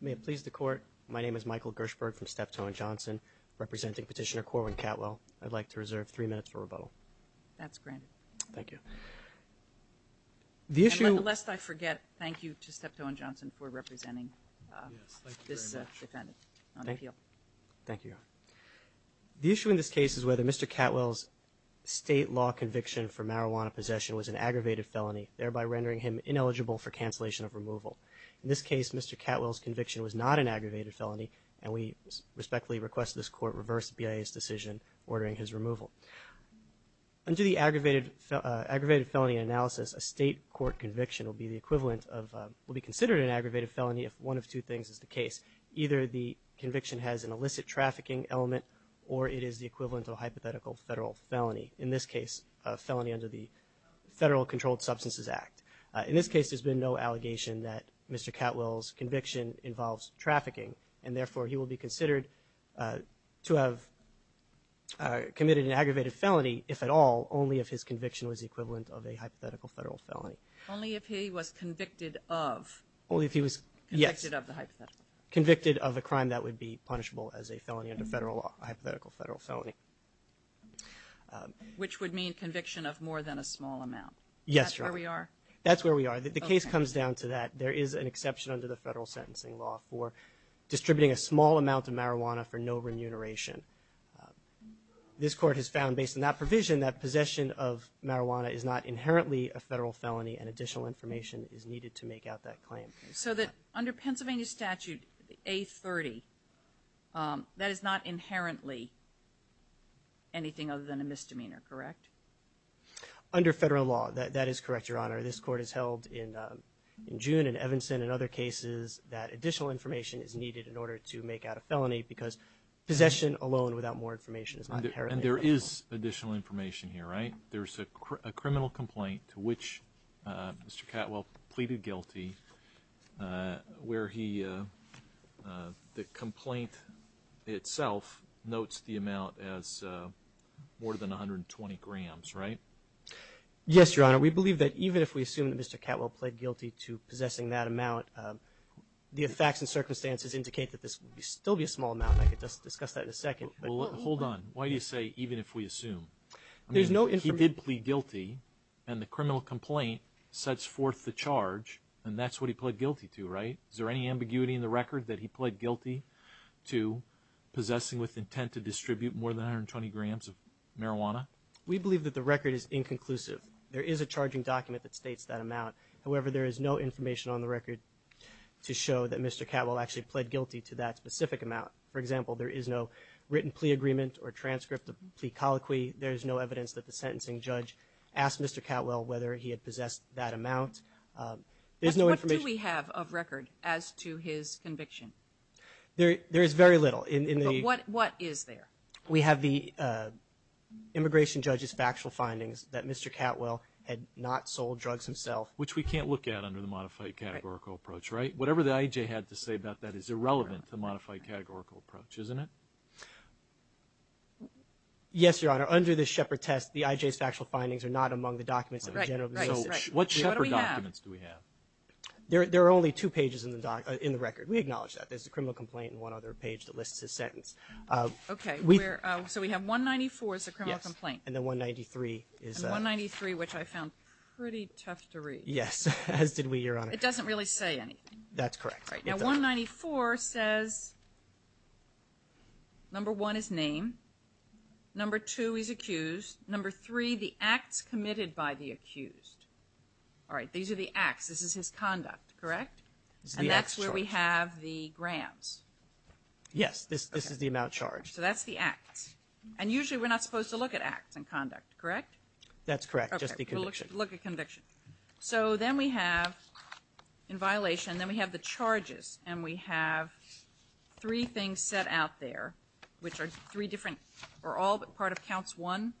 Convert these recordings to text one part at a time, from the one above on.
May it please the court, my name is Michael Gershberg from Steptoe & Johnson representing Petitioner Corwin Catwell. I'd like to reserve three minutes for rebuttal. That's granted. Thank you. The issue... And lest I forget, thank you to Steptoe & Johnson for representing this defendant on appeal. Thank you. The issue in this case is whether Mr. Catwell's state law conviction for marijuana possession was an aggravated felony, thereby rendering him ineligible for cancellation of removal. In this case, Mr. Catwell's conviction was not an aggravated felony and we respectfully request this court reverse the BIA's decision ordering his removal. Under the aggravated felony analysis, a state court conviction will be the equivalent of... will be considered an aggravated felony if one of two things is the case. Either the conviction has an illicit trafficking element or it is the equivalent of a hypothetical federal felony. In this case, felony under the Federal Controlled Substances Act. In this case, there's been no allegation that Mr. Catwell's conviction involves trafficking and therefore he will be considered to have committed an aggravated felony, if at all, only if his conviction was equivalent of a hypothetical federal felony. Only if he was convicted of... Only if he was... Yes. Convicted of the hypothetical. Convicted of a crime that would be punishable as a felony under federal law, a hypothetical federal felony. Which would mean conviction of more than a small amount. Yes. That's where we are. That's where we are. The case comes down to that. There is an exception under the federal sentencing law for distributing a small amount of marijuana for no remuneration. This court has found, based on that provision, that possession of marijuana is not inherently a federal felony and additional information is needed to make out that claim. So that under Pennsylvania statute A30, that is not inherently anything other than a misdemeanor, correct? Under federal law, that is correct, Your Honor. This court has held in June and Evanston and other cases that additional information is needed in order to make out a felony because possession alone without more information is not inherently a felony. And there is additional information here, right? There's a criminal complaint to which Mr. Catwell pleaded guilty where he, the complaint itself, notes the amount as more than 120 grams, right? Yes, Your Honor. We believe that even if we assume that Mr. Catwell pled guilty to possessing that amount, the facts and circumstances indicate that this will still be a small amount. I could just discuss that in a second. Hold on. Why do you say even if we assume? There's no evidence. He did plead guilty and the criminal complaint sets forth the charge and that's what he pled guilty to, right? Is there any ambiguity in the record that he pled guilty to possessing with intent to distribute more than 120 grams of marijuana? We believe that the record is inconclusive. There is a charging document that states that amount. However, there is no information on the record to show that Mr. Catwell actually pled guilty to that specific amount. For example, there is no written plea agreement or transcript of the plea sentencing. The judge asked Mr. Catwell whether he had possessed that amount. There's no information. What do we have of record as to his conviction? There is very little. What is there? We have the immigration judge's factual findings that Mr. Catwell had not sold drugs himself. Which we can't look at under the modified categorical approach, right? Whatever the IAJ had to say about that is irrelevant to the modified categorical approach, isn't it? Yes, Your Honor. Under the Shepard test, the IJ's factual findings are not among the documents. What Shepard documents do we have? There are only two pages in the record. We acknowledge that. There's a criminal complaint and one other page that lists his sentence. Okay, so we have 194 is the criminal complaint. And then 193 is... 193, which I found pretty tough to read. Yes, as did we, Your Honor. It doesn't really say anything. That's correct. Now 194 says, number one is name, number two is accused, number three the acts committed by the accused. All right, these are the acts. This is his conduct, correct? And that's where we have the grams. Yes, this is the amount charged. So that's the acts. And usually we're not supposed to look at acts and conduct, correct? That's correct, just the conviction. Look at conviction. So then we have, in violation, then we have the charges. And we have three things set out there, which are three different, are all part of counts one,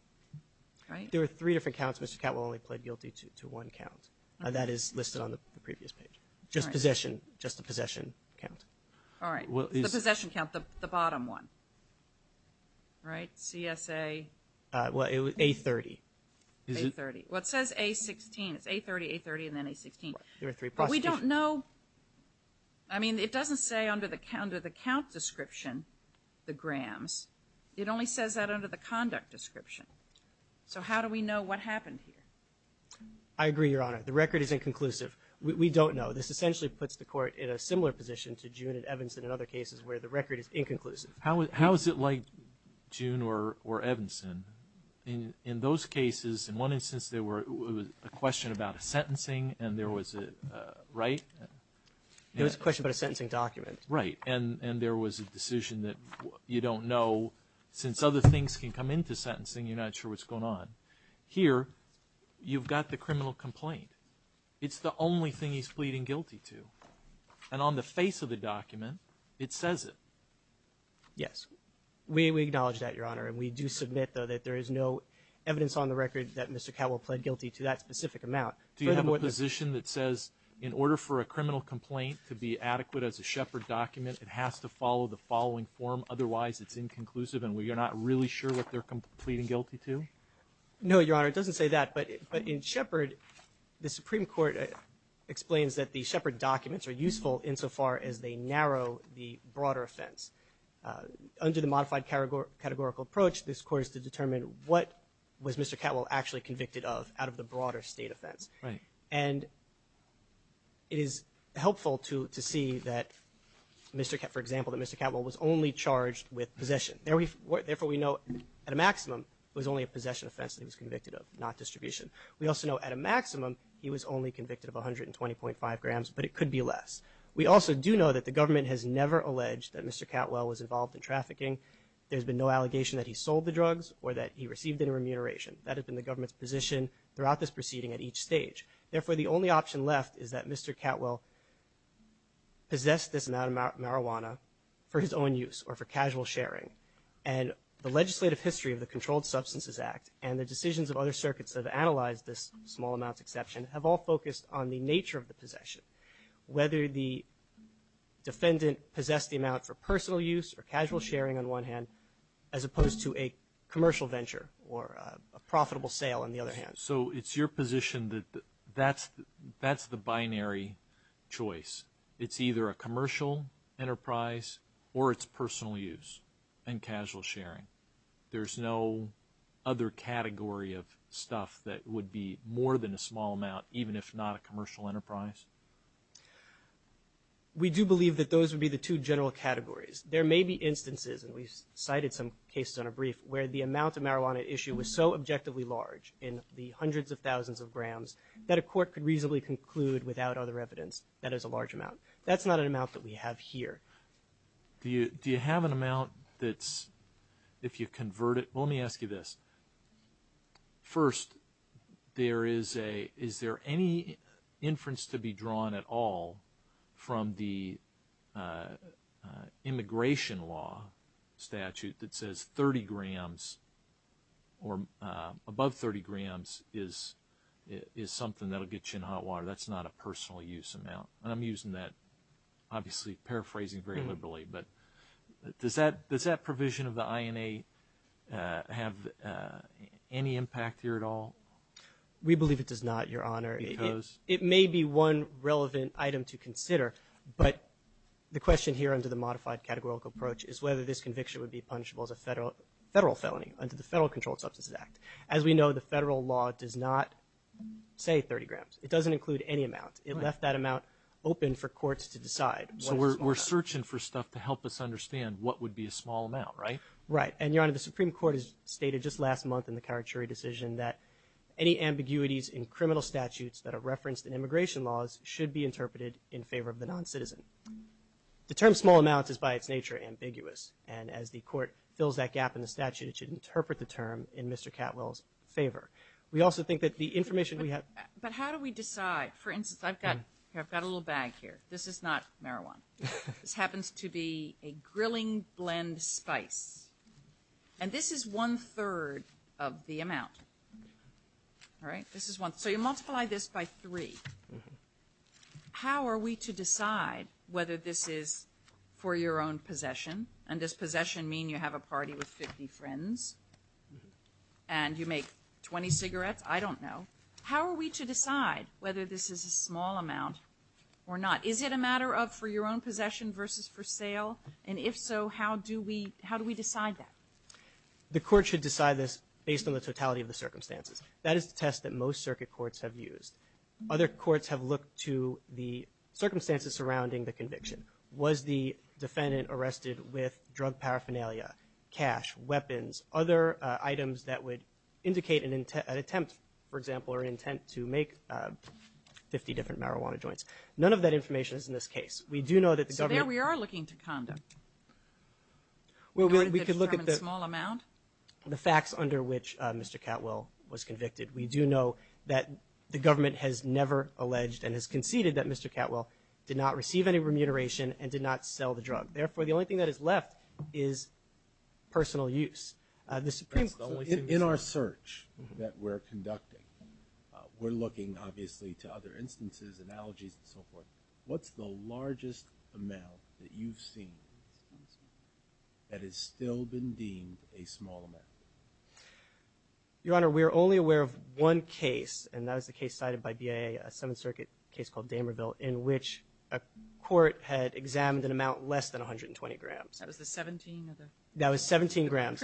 right? There are three different counts. Mr. Catwell only played guilty to one count. That is listed on the previous page. Just possession, just the possession count. All right, the possession count, the bottom one, right? CSA. Well, it was A30. A30. What says A16? It's A30, A30, and then A16. But we don't know, I mean, it doesn't say under the count description, the grams. It only says that under the conduct description. So how do we know what happened here? I agree, Your Honor. The record is inconclusive. We don't know. This essentially puts the court in a similar position to June and Evanston and other cases where the record is inconclusive. How is it like June or Evanston? In those cases, in one instance, there was a question about a sentencing and there was a, right? It was a question about a sentencing document. Right, and there was a decision that you don't know. Since other things can come into sentencing, you're not sure what's going on. Here, you've got the criminal complaint. It's the only thing he's pleading guilty to, and on the face of the document, it says it. Yes, we acknowledge that, Your Honor, and we do submit, though, that there is no evidence on the record that Mr. Catwell pled guilty to that specific amount. Do you have a position that says in order for a Shepard document, it has to follow the following form? Otherwise, it's inconclusive and we're not really sure what they're pleading guilty to? No, Your Honor, it doesn't say that, but in Shepard, the Supreme Court explains that the Shepard documents are useful insofar as they narrow the broader offense. Under the modified categorical approach, this court is to determine what was Mr. Catwell actually convicted of out of the broader state offense, and it is helpful to see that, for example, that Mr. Catwell was only charged with possession. Therefore, we know at a maximum, it was only a possession offense that he was convicted of, not distribution. We also know at a maximum, he was only convicted of 120.5 grams, but it could be less. We also do know that the government has never alleged that Mr. Catwell was involved in trafficking. There's been no allegation that he sold the drugs or that he received any remuneration. That has been the government's position throughout this proceeding at each stage. Therefore, the only option left is that Mr. Catwell possessed this amount of marijuana for his own use or for casual sharing, and the legislative history of the Controlled Substances Act and the decisions of other circuits that have analyzed this small amounts exception have all focused on the nature of the possession. Whether the defendant possessed the amount for personal use or casual sharing, on one hand, as opposed to a commercial venture or a profitable sale, on the other hand. So it's your position that that's the binary choice. It's either a commercial enterprise or it's personal use and casual sharing. There's no other category of stuff that would be more than a small amount, even if not a commercial enterprise? We do believe that those would be the two general categories. There may be a brief where the amount of marijuana issue was so objectively large in the hundreds of thousands of grams that a court could reasonably conclude without other evidence that is a large amount. That's not an amount that we have here. Do you have an amount that's, if you convert it, let me ask you this. First, there is a, is there any inference to be drawn at all from the immigration law statute that says 30 grams or above 30 grams is something that will get you in hot water? That's not a personal use amount. I'm using that, obviously, paraphrasing very liberally, but does that provision of the INA have any impact here at all? We believe it does not, Your Honor. It may be one relevant item to consider, but the question here under the modified categorical approach is whether this conviction would be punishable as a federal felony under the Federal Controlled Substances Act. As we know, the federal law does not say 30 grams. It doesn't include any amount. It left that amount open for courts to decide. So we're searching for stuff to help us understand what would be a small amount, right? Right. And, Your Honor, the Supreme Court has stated just last month in the Karachuri decision that any ambiguities in criminal statutes that are referenced in immigration laws should be interpreted in favor of the non-citizen. The term as the court fills that gap in the statute, it should interpret the term in Mr. Catwell's favor. We also think that the information we have... But how do we decide? For instance, I've got a little bag here. This is not marijuana. This happens to be a grilling blend spice, and this is one-third of the amount, right? This is one. So you multiply this by three. How are we to decide whether this is for your own possession? And does possession mean you have a party with 50 friends and you make 20 cigarettes? I don't know. How are we to decide whether this is a small amount or not? Is it a matter of for your own possession versus for sale? And if so, how do we decide that? The court should decide this based on the totality of the circumstances. That is the test that most circuit courts have used. Other courts have looked to the Was the defendant arrested with drug paraphernalia, cash, weapons, other items that would indicate an attempt, for example, or intent to make 50 different marijuana joints? None of that information is in this case. We do know that the government... So there we are looking to condom. We could look at the... Small amount? The facts under which Mr. Catwell was convicted. We do know that the government has never alleged and has conceded that Mr. Catwell did not receive any remuneration and did not sell the drug. Therefore, the only thing that is left is personal use. In our search that we're conducting, we're looking obviously to other instances, analogies, and so forth. What's the largest amount that you've seen that has still been deemed a small amount? Your Honor, we are only aware of one case, and that was the case cited by BIA, a Seventh Circuit case called Damerville, in which a court had examined an amount less than 120 grams. That was the 17? That was 17 grams.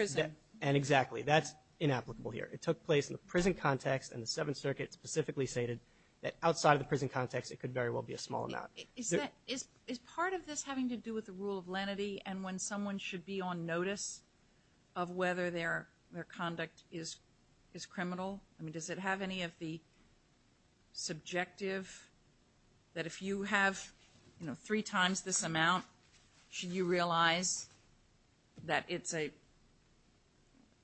And exactly, that's inapplicable here. It took place in the prison context, and the Seventh Circuit specifically stated that outside of the prison context, it could very well be a small amount. Is part of this having to do with the rule of lenity and when someone should be on notice of whether their their conduct is is criminal? I mean, does it have any of the subjective that if you have, you know, three times this amount, should you realize that it's a,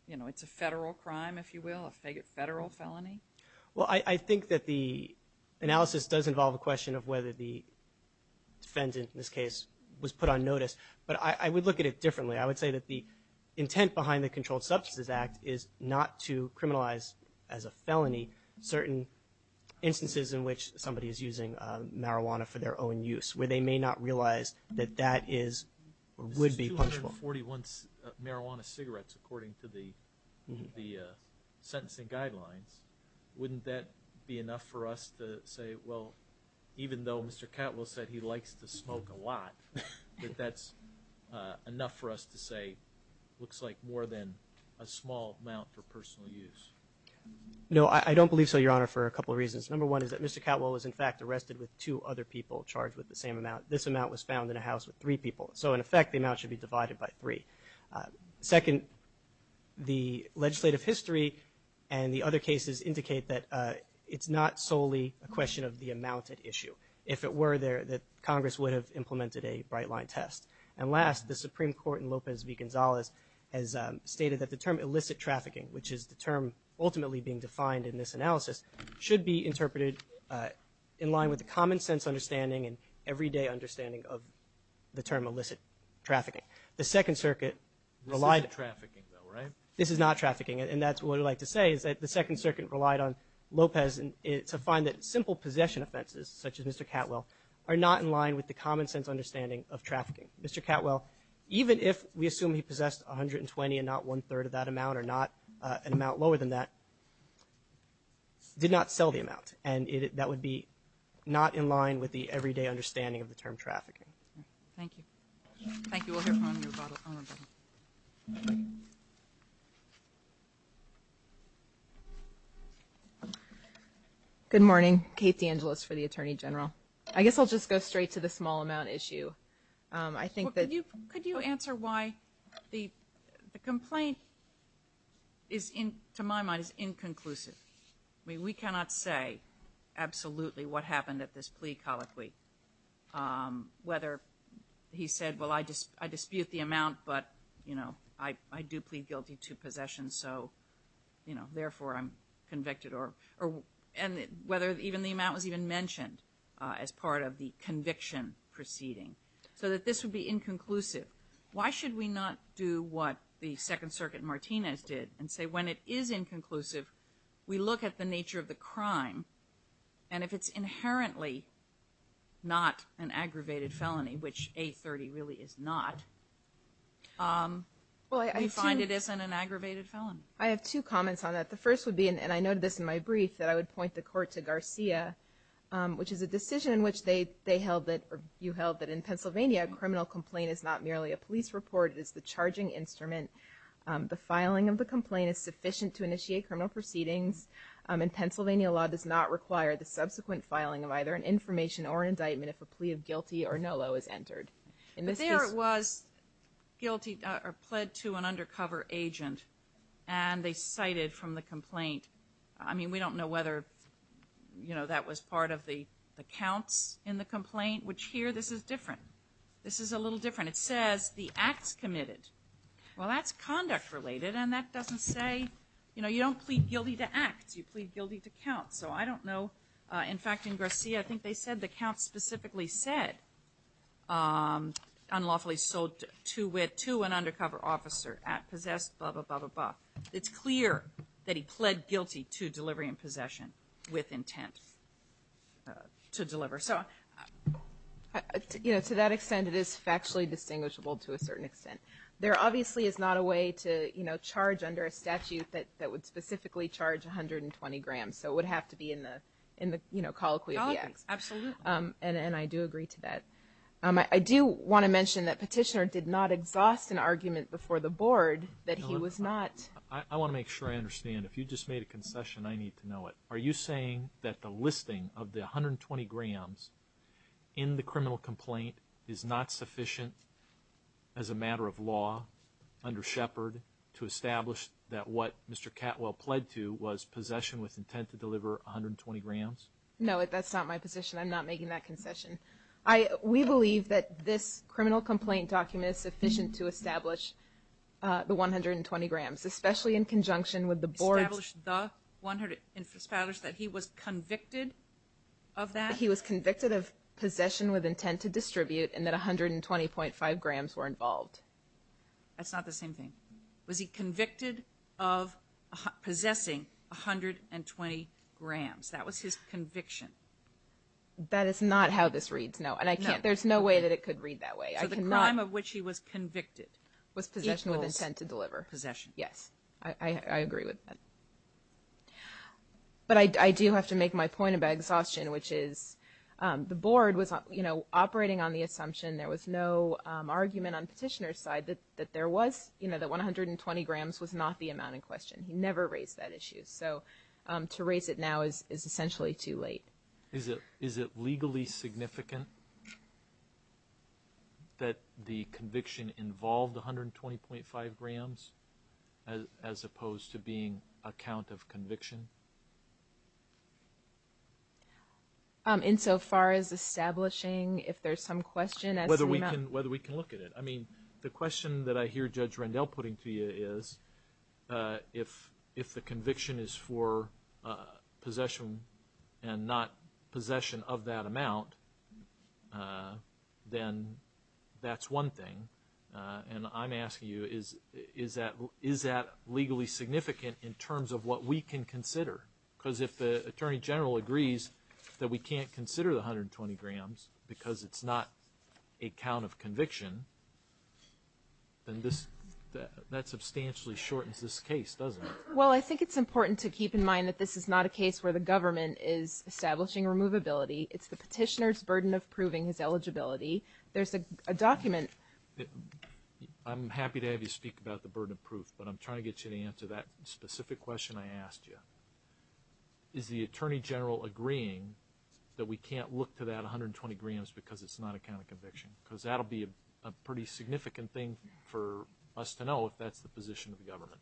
you know, it's a federal crime, if you will, a federal felony? Well, I think that the analysis does involve a question of whether the defendant, in this case, was put on notice. But I would look at it differently. I would say that the intent behind the Controlled Substances Act is not to instances in which somebody is using marijuana for their own use, where they may not realize that that is or would be punishable. This is 241 marijuana cigarettes according to the the sentencing guidelines. Wouldn't that be enough for us to say, well, even though Mr. Catwell said he likes to smoke a lot, that that's enough for us to say looks like more than a small amount for a couple reasons. Number one is that Mr. Catwell was, in fact, arrested with two other people charged with the same amount. This amount was found in a house with three people. So, in effect, the amount should be divided by three. Second, the legislative history and the other cases indicate that it's not solely a question of the amount at issue. If it were there, that Congress would have implemented a bright-line test. And last, the Supreme Court in Lopez v. Gonzalez has stated that the term illicit trafficking, which is the term ultimately being defined in this analysis, should be interpreted in line with the common-sense understanding and everyday understanding of the term illicit trafficking. The Second Circuit relied... This isn't trafficking, though, right? This is not trafficking, and that's what I'd like to say, is that the Second Circuit relied on Lopez to find that simple possession offenses, such as Mr. Catwell, are not in line with the common-sense understanding of trafficking. Mr. Catwell, even if we assume he possessed 120 and not one-third of that amount or not an did not sell the amount, and that would be not in line with the everyday understanding of the term trafficking. Thank you. Thank you. We'll hear from you. Good morning. Kate DeAngelis for the Attorney General. I guess I'll just go straight to the small amount issue. I think that... Could you answer why the complaint is, to my mind, is inconclusive. I mean, we cannot say absolutely what happened at this plea colloquy, whether he said, well, I dispute the amount, but, you know, I do plead guilty to possession, so, you know, therefore, I'm convicted, or... And whether even the amount was even mentioned as part of the conviction proceeding, so that this would be inconclusive. Why should we not do what the Second Circuit Martinez did and say, when it is inconclusive, we look at the nature of the crime, and if it's inherently not an aggravated felony, which A30 really is not, we find it isn't an aggravated felony. I have two comments on that. The first would be, and I noted this in my brief, that I would point the court to Garcia, which is a decision in which they held that, or you held that, in Pennsylvania, a criminal complaint is not merely a court, it is the charging instrument. The filing of the complaint is sufficient to initiate criminal proceedings, and Pennsylvania law does not require the subsequent filing of either an information or an indictment if a plea of guilty or no low is entered. In this case... But there it was, guilty, or pled to an undercover agent, and they cited from the complaint, I mean, we don't know whether, you know, that was part of the accounts in the complaint, which here, this is different. This is a little different. It says, acts committed. Well, that's conduct related, and that doesn't say, you know, you don't plead guilty to acts, you plead guilty to counts. So I don't know, in fact, in Garcia, I think they said, the count specifically said, unlawfully sold to an undercover officer at possessed, blah, blah, blah, blah, blah. It's clear that he pled guilty to delivery and possession with intent to deliver. So, you know, to that extent, it is factually distinguishable to a certain extent. There obviously is not a way to, you know, charge under a statute that, that would specifically charge 120 grams. So it would have to be in the, in the, you know, colloquy of the acts. Absolutely. And I do agree to that. I do want to mention that Petitioner did not exhaust an argument before the Board that he was not... I want to make sure I understand. If you just made a concession, I need to know it. Are you saying that the listing of the 120 grams in the criminal complaint is not sufficient as a matter of law under Shepard to establish that what Mr. Catwell pled to was possession with intent to deliver 120 grams? No, that's not my position. I'm not making that concession. I, we believe that this criminal complaint document is sufficient to establish the 120 grams, especially in conjunction with the Board's... Establish the 120, establish that he was to distribute and that 120.5 grams were involved. That's not the same thing. Was he convicted of possessing 120 grams? That was his conviction. That is not how this reads, no. And I can't, there's no way that it could read that way. I can not... So the crime of which he was convicted was possession with intent to deliver. Possession. Yes, I agree with that. But I do have to make my point about exhaustion, which is the Board was, you know, operating on the assumption, there was no argument on petitioner's side that there was, you know, the 120 grams was not the amount in question. He never raised that issue. So to raise it now is essentially too late. Is it, is it legally significant that the conviction involved 120.5 insofar as establishing if there's some question... Whether we can, whether we can look at it. I mean, the question that I hear Judge Rendell putting to you is, if if the conviction is for possession and not possession of that amount, then that's one thing. And I'm asking you is, is that, is that legally significant in terms of what we can consider? Because if the Attorney General agrees that we can't consider the 120 grams because it's not a count of conviction, then this, that substantially shortens this case, doesn't it? Well, I think it's important to keep in mind that this is not a case where the government is establishing removability. It's the petitioner's burden of proving his eligibility. There's a document... I'm happy to have you speak about the burden of proof, but I'm trying to get you to answer that specific question I asked you. Is the Attorney General agreeing that we can't look to that 120 grams because it's not a count of conviction? Because that'll be a pretty significant thing for us to know if that's the position of the government.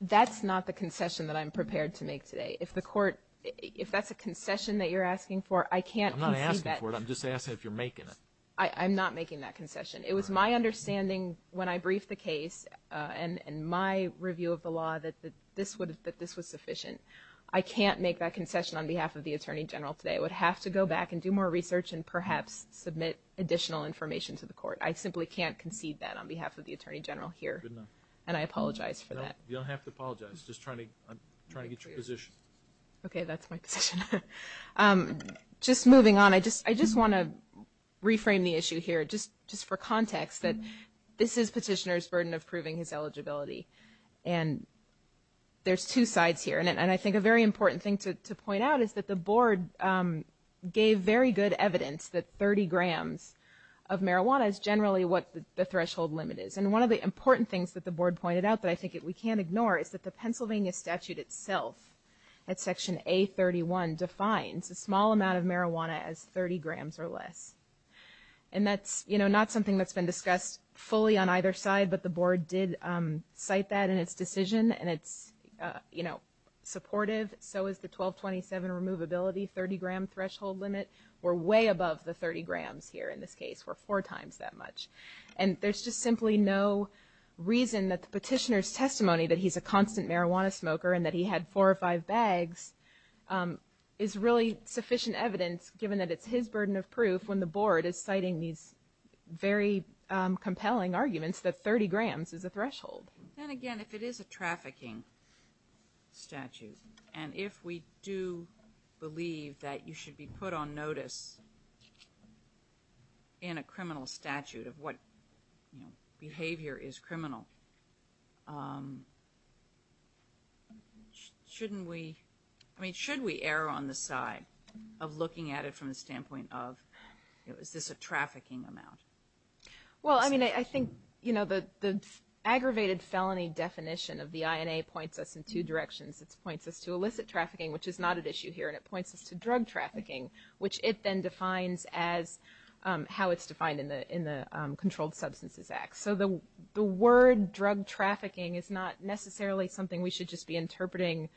That's not the concession that I'm prepared to make today. If the court, if that's a concession that you're asking for, I can't concede that. I'm not asking for it. I'm just asking if you're making it. I'm not making that concession. It was my understanding when I briefed the case and my review of the I can't make that concession on behalf of the Attorney General today. I would have to go back and do more research and perhaps submit additional information to the court. I simply can't concede that on behalf of the Attorney General here. And I apologize for that. You don't have to apologize. I'm just trying to get your position. Okay, that's my position. Just moving on, I just want to reframe the issue here, just for context, that this is petitioner's burden of proving his And I think a very important thing to point out is that the board gave very good evidence that 30 grams of marijuana is generally what the threshold limit is. And one of the important things that the board pointed out that I think we can't ignore is that the Pennsylvania statute itself, at section A31, defines a small amount of marijuana as 30 grams or less. And that's, you know, not something that's been discussed fully on either side, but the board did cite that in its decision. And it's, you know, supportive. So is the 1227 Removability 30-gram threshold limit. We're way above the 30 grams here in this case. We're four times that much. And there's just simply no reason that the petitioner's testimony that he's a constant marijuana smoker and that he had four or five bags is really sufficient evidence, given that it's his burden of proof, when the board is Then again, if it is a trafficking statute, and if we do believe that you should be put on notice in a criminal statute of what, you know, behavior is criminal, shouldn't we, I mean, should we err on the side of looking at it from the standpoint of, you know, is this a trafficking amount? Well, I mean, I think, you know, the aggravated felony definition of the INA points us in two directions. It points us to illicit trafficking, which is not an issue here. And it points us to drug trafficking, which it then defines as how it's defined in the Controlled Substances Act. So the word drug trafficking is not necessarily something we should just be interpreting,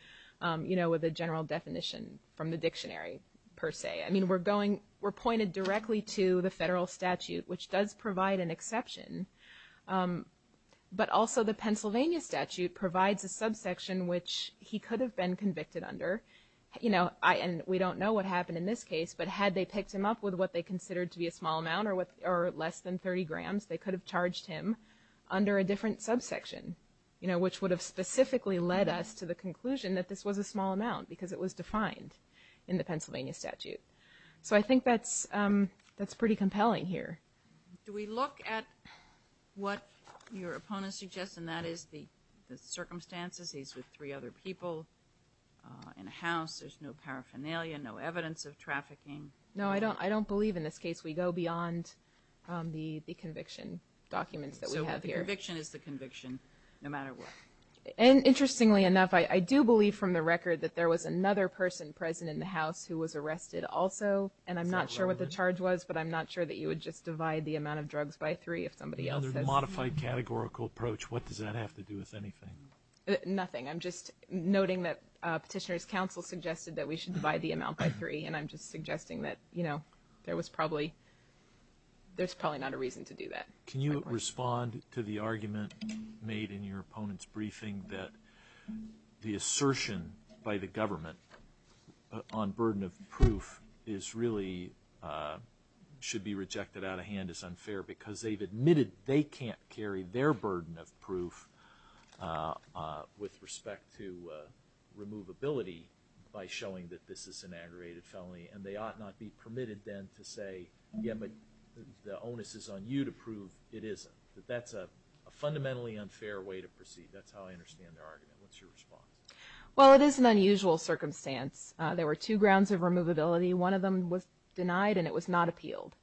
you know, with a general definition from the dictionary, per se. I mean, we're going, we're pointed directly to the federal statute, which does provide an exception. But also the Pennsylvania statute provides a subsection which he could have been convicted under, you know, I and we don't know what happened in this case, but had they picked him up with what they considered to be a small amount or what or less than 30 grams, they could have charged him under a different subsection, you know, which would have specifically led us to the conclusion that this was a small amount because it was defined in the Pennsylvania statute. So I think that's, that's pretty compelling here. Do we look at what your opponent suggests, and that is the circumstances, he's with three other people in a house, there's no paraphernalia, no evidence of trafficking? No, I don't, I don't believe in this case we go beyond the the conviction documents that we have here. So the conviction is the conviction, no matter what? And interestingly enough, I do believe from the record that there was another person present in the house who was arrested also, and I'm not sure what the charge was, but I'm not sure that you would just divide the amount of drugs by three if somebody else has... A modified categorical approach, what does that have to do with anything? Nothing, I'm just noting that Petitioner's Council suggested that we should divide the amount by three, and I'm just suggesting that, you know, there was probably, there's probably not a reason to do that. Can you respond to the argument made in your opponent's briefing that the on burden of proof is really, should be rejected out of hand as unfair because they've admitted they can't carry their burden of proof with respect to removability by showing that this is an aggravated felony, and they ought not be permitted then to say, yeah, but the onus is on you to prove it isn't. That that's a fundamentally unfair way to proceed, that's how I understand their argument. What's your response? Well, it is an unusual circumstance. There were two grounds of removability, one of them was denied and it was not appealed.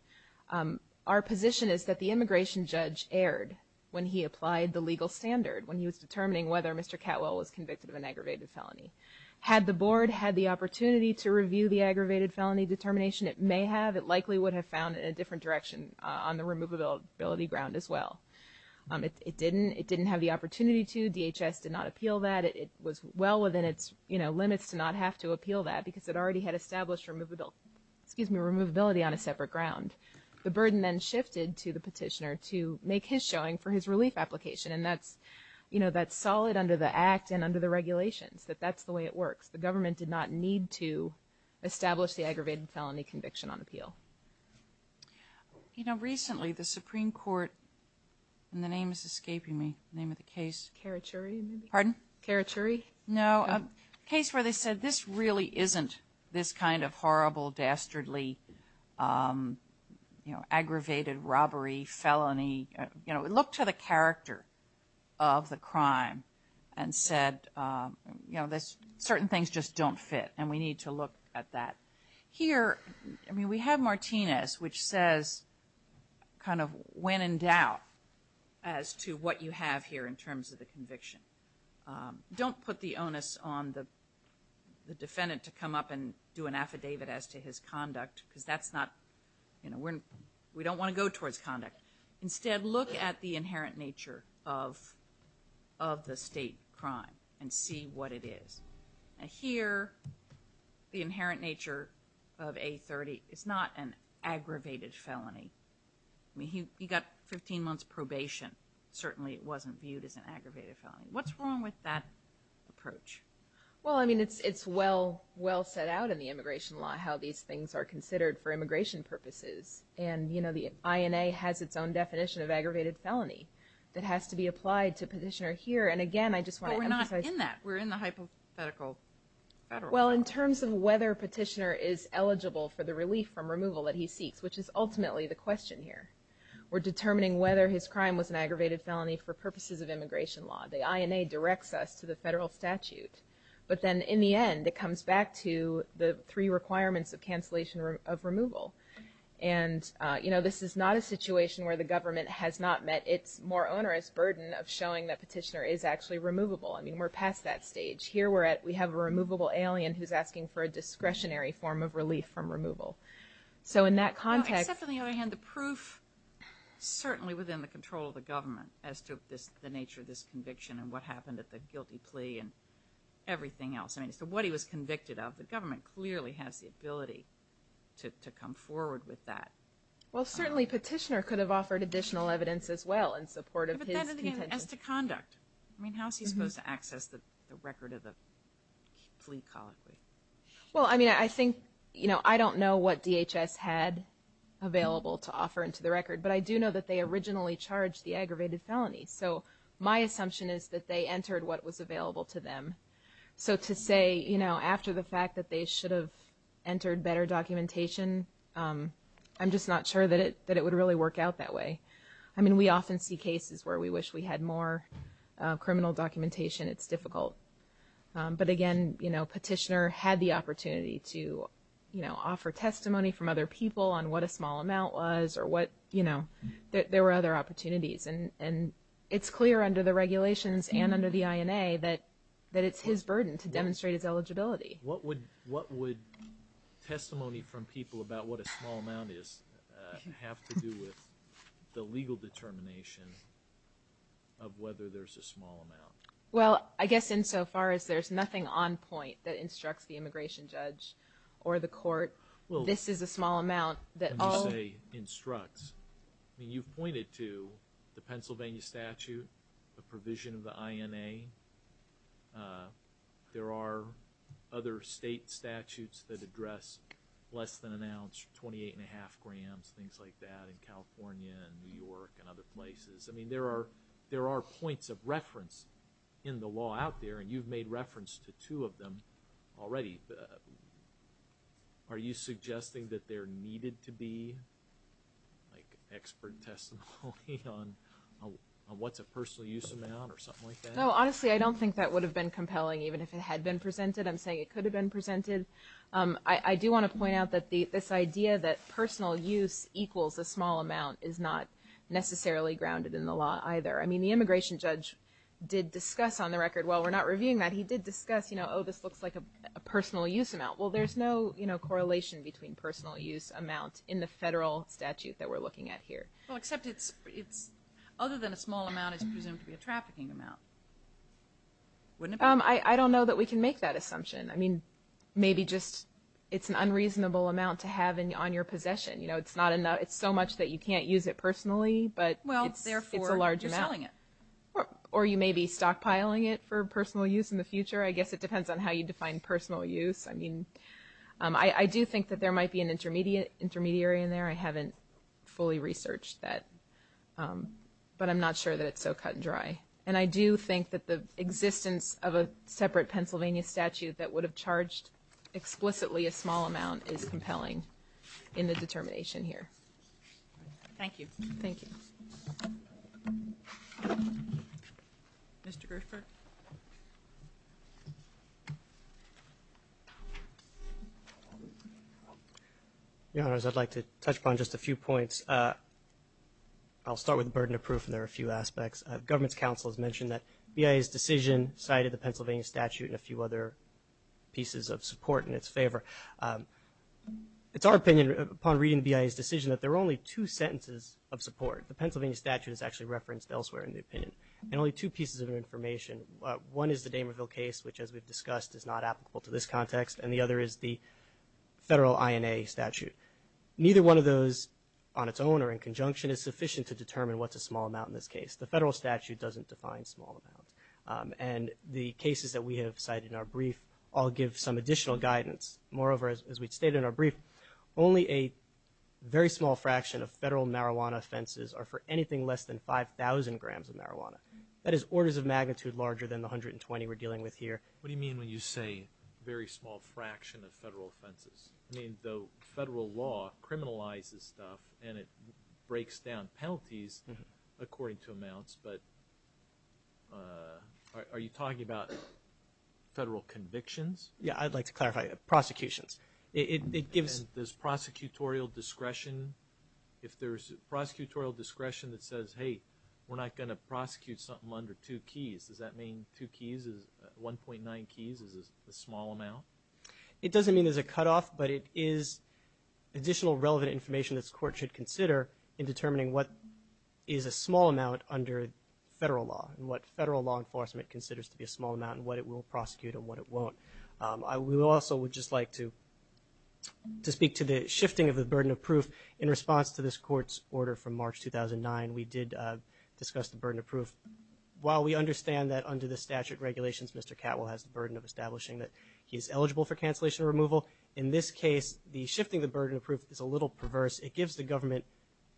Our position is that the immigration judge erred when he applied the legal standard, when he was determining whether Mr. Catwell was convicted of an aggravated felony. Had the board had the opportunity to review the aggravated felony determination, it may have, it likely would have found it in a different direction on the removability ground as well. It didn't, it didn't have the opportunity to, DHS did not appeal that. It was well within its, you know, limits to not have to appeal that because it already had established removability, excuse me, removability on a separate ground. The burden then shifted to the petitioner to make his showing for his relief application, and that's, you know, that's solid under the Act and under the regulations, that that's the way it works. The government did not need to establish the aggravated felony conviction on appeal. You know, recently the Supreme Court, and the name is escaping me, name of the case. Carachuri? Carachuri? No, a case where they said this really isn't this kind of horrible, dastardly, you know, aggravated robbery, felony. You know, look to the character of the crime and said, you know, this certain things just don't fit, and we need to look at that. Here, I mean, we have Martinez, which says kind of when in doubt as to what you have here in terms of the conviction. Don't put the onus on the defendant to come up and do an affidavit as to his conduct because that's not, you know, we don't want to go towards conduct. Instead, look at the inherent nature of the state crime and see what it is. Now here, the inherent nature of A30 is not an aggravated felony. I mean, he was sentenced to 16 months probation. Certainly, it wasn't viewed as an aggravated felony. What's wrong with that approach? Well, I mean, it's well set out in the immigration law how these things are considered for immigration purposes. And, you know, the INA has its own definition of aggravated felony that has to be applied to Petitioner here. And again, I just want to emphasize... But we're not in that. We're in the hypothetical federal... Well, in terms of whether Petitioner is eligible for the relief from removal that he seeks, which is ultimately the question here. We're determining whether his crime was an aggravated felony for purposes of immigration law. The INA directs us to the federal statute. But then, in the end, it comes back to the three requirements of cancellation of removal. And, you know, this is not a situation where the government has not met its more onerous burden of showing that Petitioner is actually removable. I mean, we're past that stage. Here, we have a removable alien who's asking for a discretionary form of relief from removal. So, in that context... Except, on the other hand, the proof certainly within the control of the government as to the nature of this conviction and what happened at the guilty plea and everything else. I mean, as to what he was convicted of, the government clearly has the ability to come forward with that. Well, certainly Petitioner could have offered additional evidence as well in support of his... But then, as to conduct. I mean, how is he supposed to access the record of the plea colloquy? Well, I mean, I think, you know, I don't know what DHS had available to offer into the record. But I do know that they originally charged the aggravated felony. So, my assumption is that they entered what was available to them. So, to say, you know, after the fact that they should have entered better documentation, I'm just not sure that it would really work out that way. I mean, we often see cases where we wish we had more criminal documentation. It's difficult. But again, you know, Petitioner had the opportunity to, you know, offer testimony from other people on what a small amount was or what, you know, there were other opportunities. And it's clear under the regulations and under the INA that it's his burden to demonstrate his eligibility. What would testimony from people about what a small amount is have to do with the legal determination of whether there's a small amount? Well, I guess insofar as there's nothing on point that instructs the immigration judge or the court, this is a small amount that all... When you say instructs, I mean, you've pointed to the Pennsylvania statute, the provision of the INA. There are other state statutes that address less than an ounce, 28 and a half grams, things like that in California and New York and other places. I mean, there are points of reference in the law out there, and you've made reference to two of them already. Are you suggesting that there needed to be, like, expert testimony on what's a personal use amount or something like that? No, honestly, I don't think that would have been compelling even if it had been presented. I'm saying it could have been presented. I do want to point out that this idea that personal use equals a small amount is not necessarily grounded in the law either. I mean, the immigration judge did discuss on the record, while we're not reviewing that, he did discuss, you know, oh, this looks like a personal use amount. Well, there's no correlation between personal use amount in the federal statute that we're looking at here. Well, except it's other than a small amount is presumed to be a trafficking amount, wouldn't it be? I don't know that we can make that assumption. I mean, maybe just it's an unreasonable amount to have on your possession. You know, it's so much that you can't use it personally, but it's a large amount. Well, therefore, you're selling it. Or you may be stockpiling it for personal use in the future. I guess it depends on how you define personal use. I mean, I do think that there might be an intermediary in there. I haven't fully researched that, but I'm not sure that it's so cut and dry. And I do think that the existence of a separate Pennsylvania statute that would have charged explicitly a small amount is compelling in the determination here. Thank you. Thank you. Mr. Griffith. Your Honors, I'd like to touch upon just a few points. I'll start with the burden of proof, and there are a few aspects. Government's counsel has mentioned that BIA's decision cited the Pennsylvania statute and a few other pieces of support in its favor. It's our opinion, upon reading BIA's decision, that there are only two sentences of support. The Pennsylvania statute is actually referenced elsewhere in the opinion, and only two pieces of information. One is the Damerville case, which, as we've discussed, is not applicable to this context, and the other is the federal INA statute. Neither one of those on its own or in conjunction is sufficient to determine what's a small amount in this case. The federal statute doesn't define small amounts. And the cases that we have cited in our brief all give some additional guidance. Moreover, as we've stated in our brief, only a very small fraction of federal marijuana offenses are for anything less than 5,000 grams of marijuana. That is orders of magnitude larger than the 120 we're dealing with here. What do you mean when you say very small fraction of federal offenses? I mean, the federal law criminalizes stuff, and it breaks down penalties according to amounts, but are you talking about federal convictions? Yeah, I'd like to clarify. Prosecutions. And there's prosecutorial discretion? If there's prosecutorial discretion that says, hey, we're not going to prosecute something under two keys, does that mean two keys is 1.9 keys is a small amount? It doesn't mean there's a cutoff, but it is additional relevant information this court should consider in determining what is a small amount under federal law and what federal law enforcement considers to be a small amount and what it will prosecute and what it won't. I also would just like to speak to the shifting of the burden of proof. In response to this court's order from March 2009, we did discuss the burden of proof. While we understand that under the statute regulations, Mr. Catwell has the burden of establishing that he is eligible for cancellation removal, in this case, the shifting the burden of proof is a little perverse. It gives the government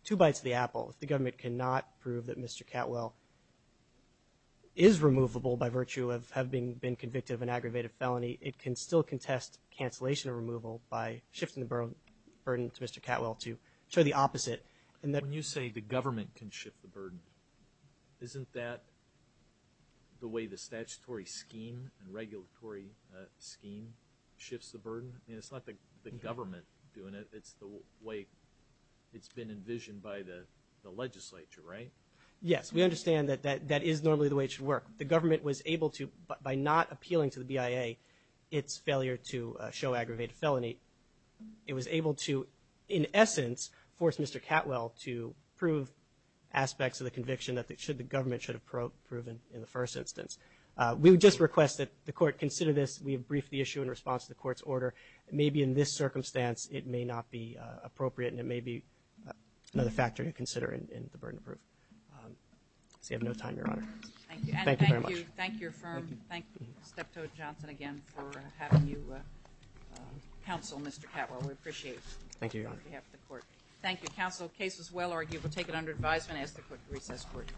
two bites of the apple. If the government cannot prove that Mr. Catwell is removable by virtue of having been convicted of an aggravated felony, it can still contest cancellation of removal by shifting the burden to Mr. Catwell to show the opposite. When you say the government can shift the burden, isn't that the way the statutory scheme and regulatory scheme shifts the burden? It's not the government doing it. It's the way it's been envisioned by the legislature, right? Yes, we understand that that is normally the way it should work. The government was able to, by not appealing to the BIA its failure to show aggravated felony, it was able to, in essence, force Mr. Catwell to prove aspects of the conviction that the government should have proven in the first instance. We would just request that the court consider this. We have briefed the issue in response to the court's order. Maybe in this circumstance, it may not be appropriate, and it may be another factor to consider in the burden of proof. I see I have no time, Your Honor. Thank you very much. Thank you. Thank your firm. Thank you. Thank you, Steptoe Johnson, again, for having you counsel Mr. Catwell. We appreciate it. Thank you, Your Honor. On behalf of the court. Thank you, counsel. The case was well argued. We'll take it under advisement. I ask that we put the recess court.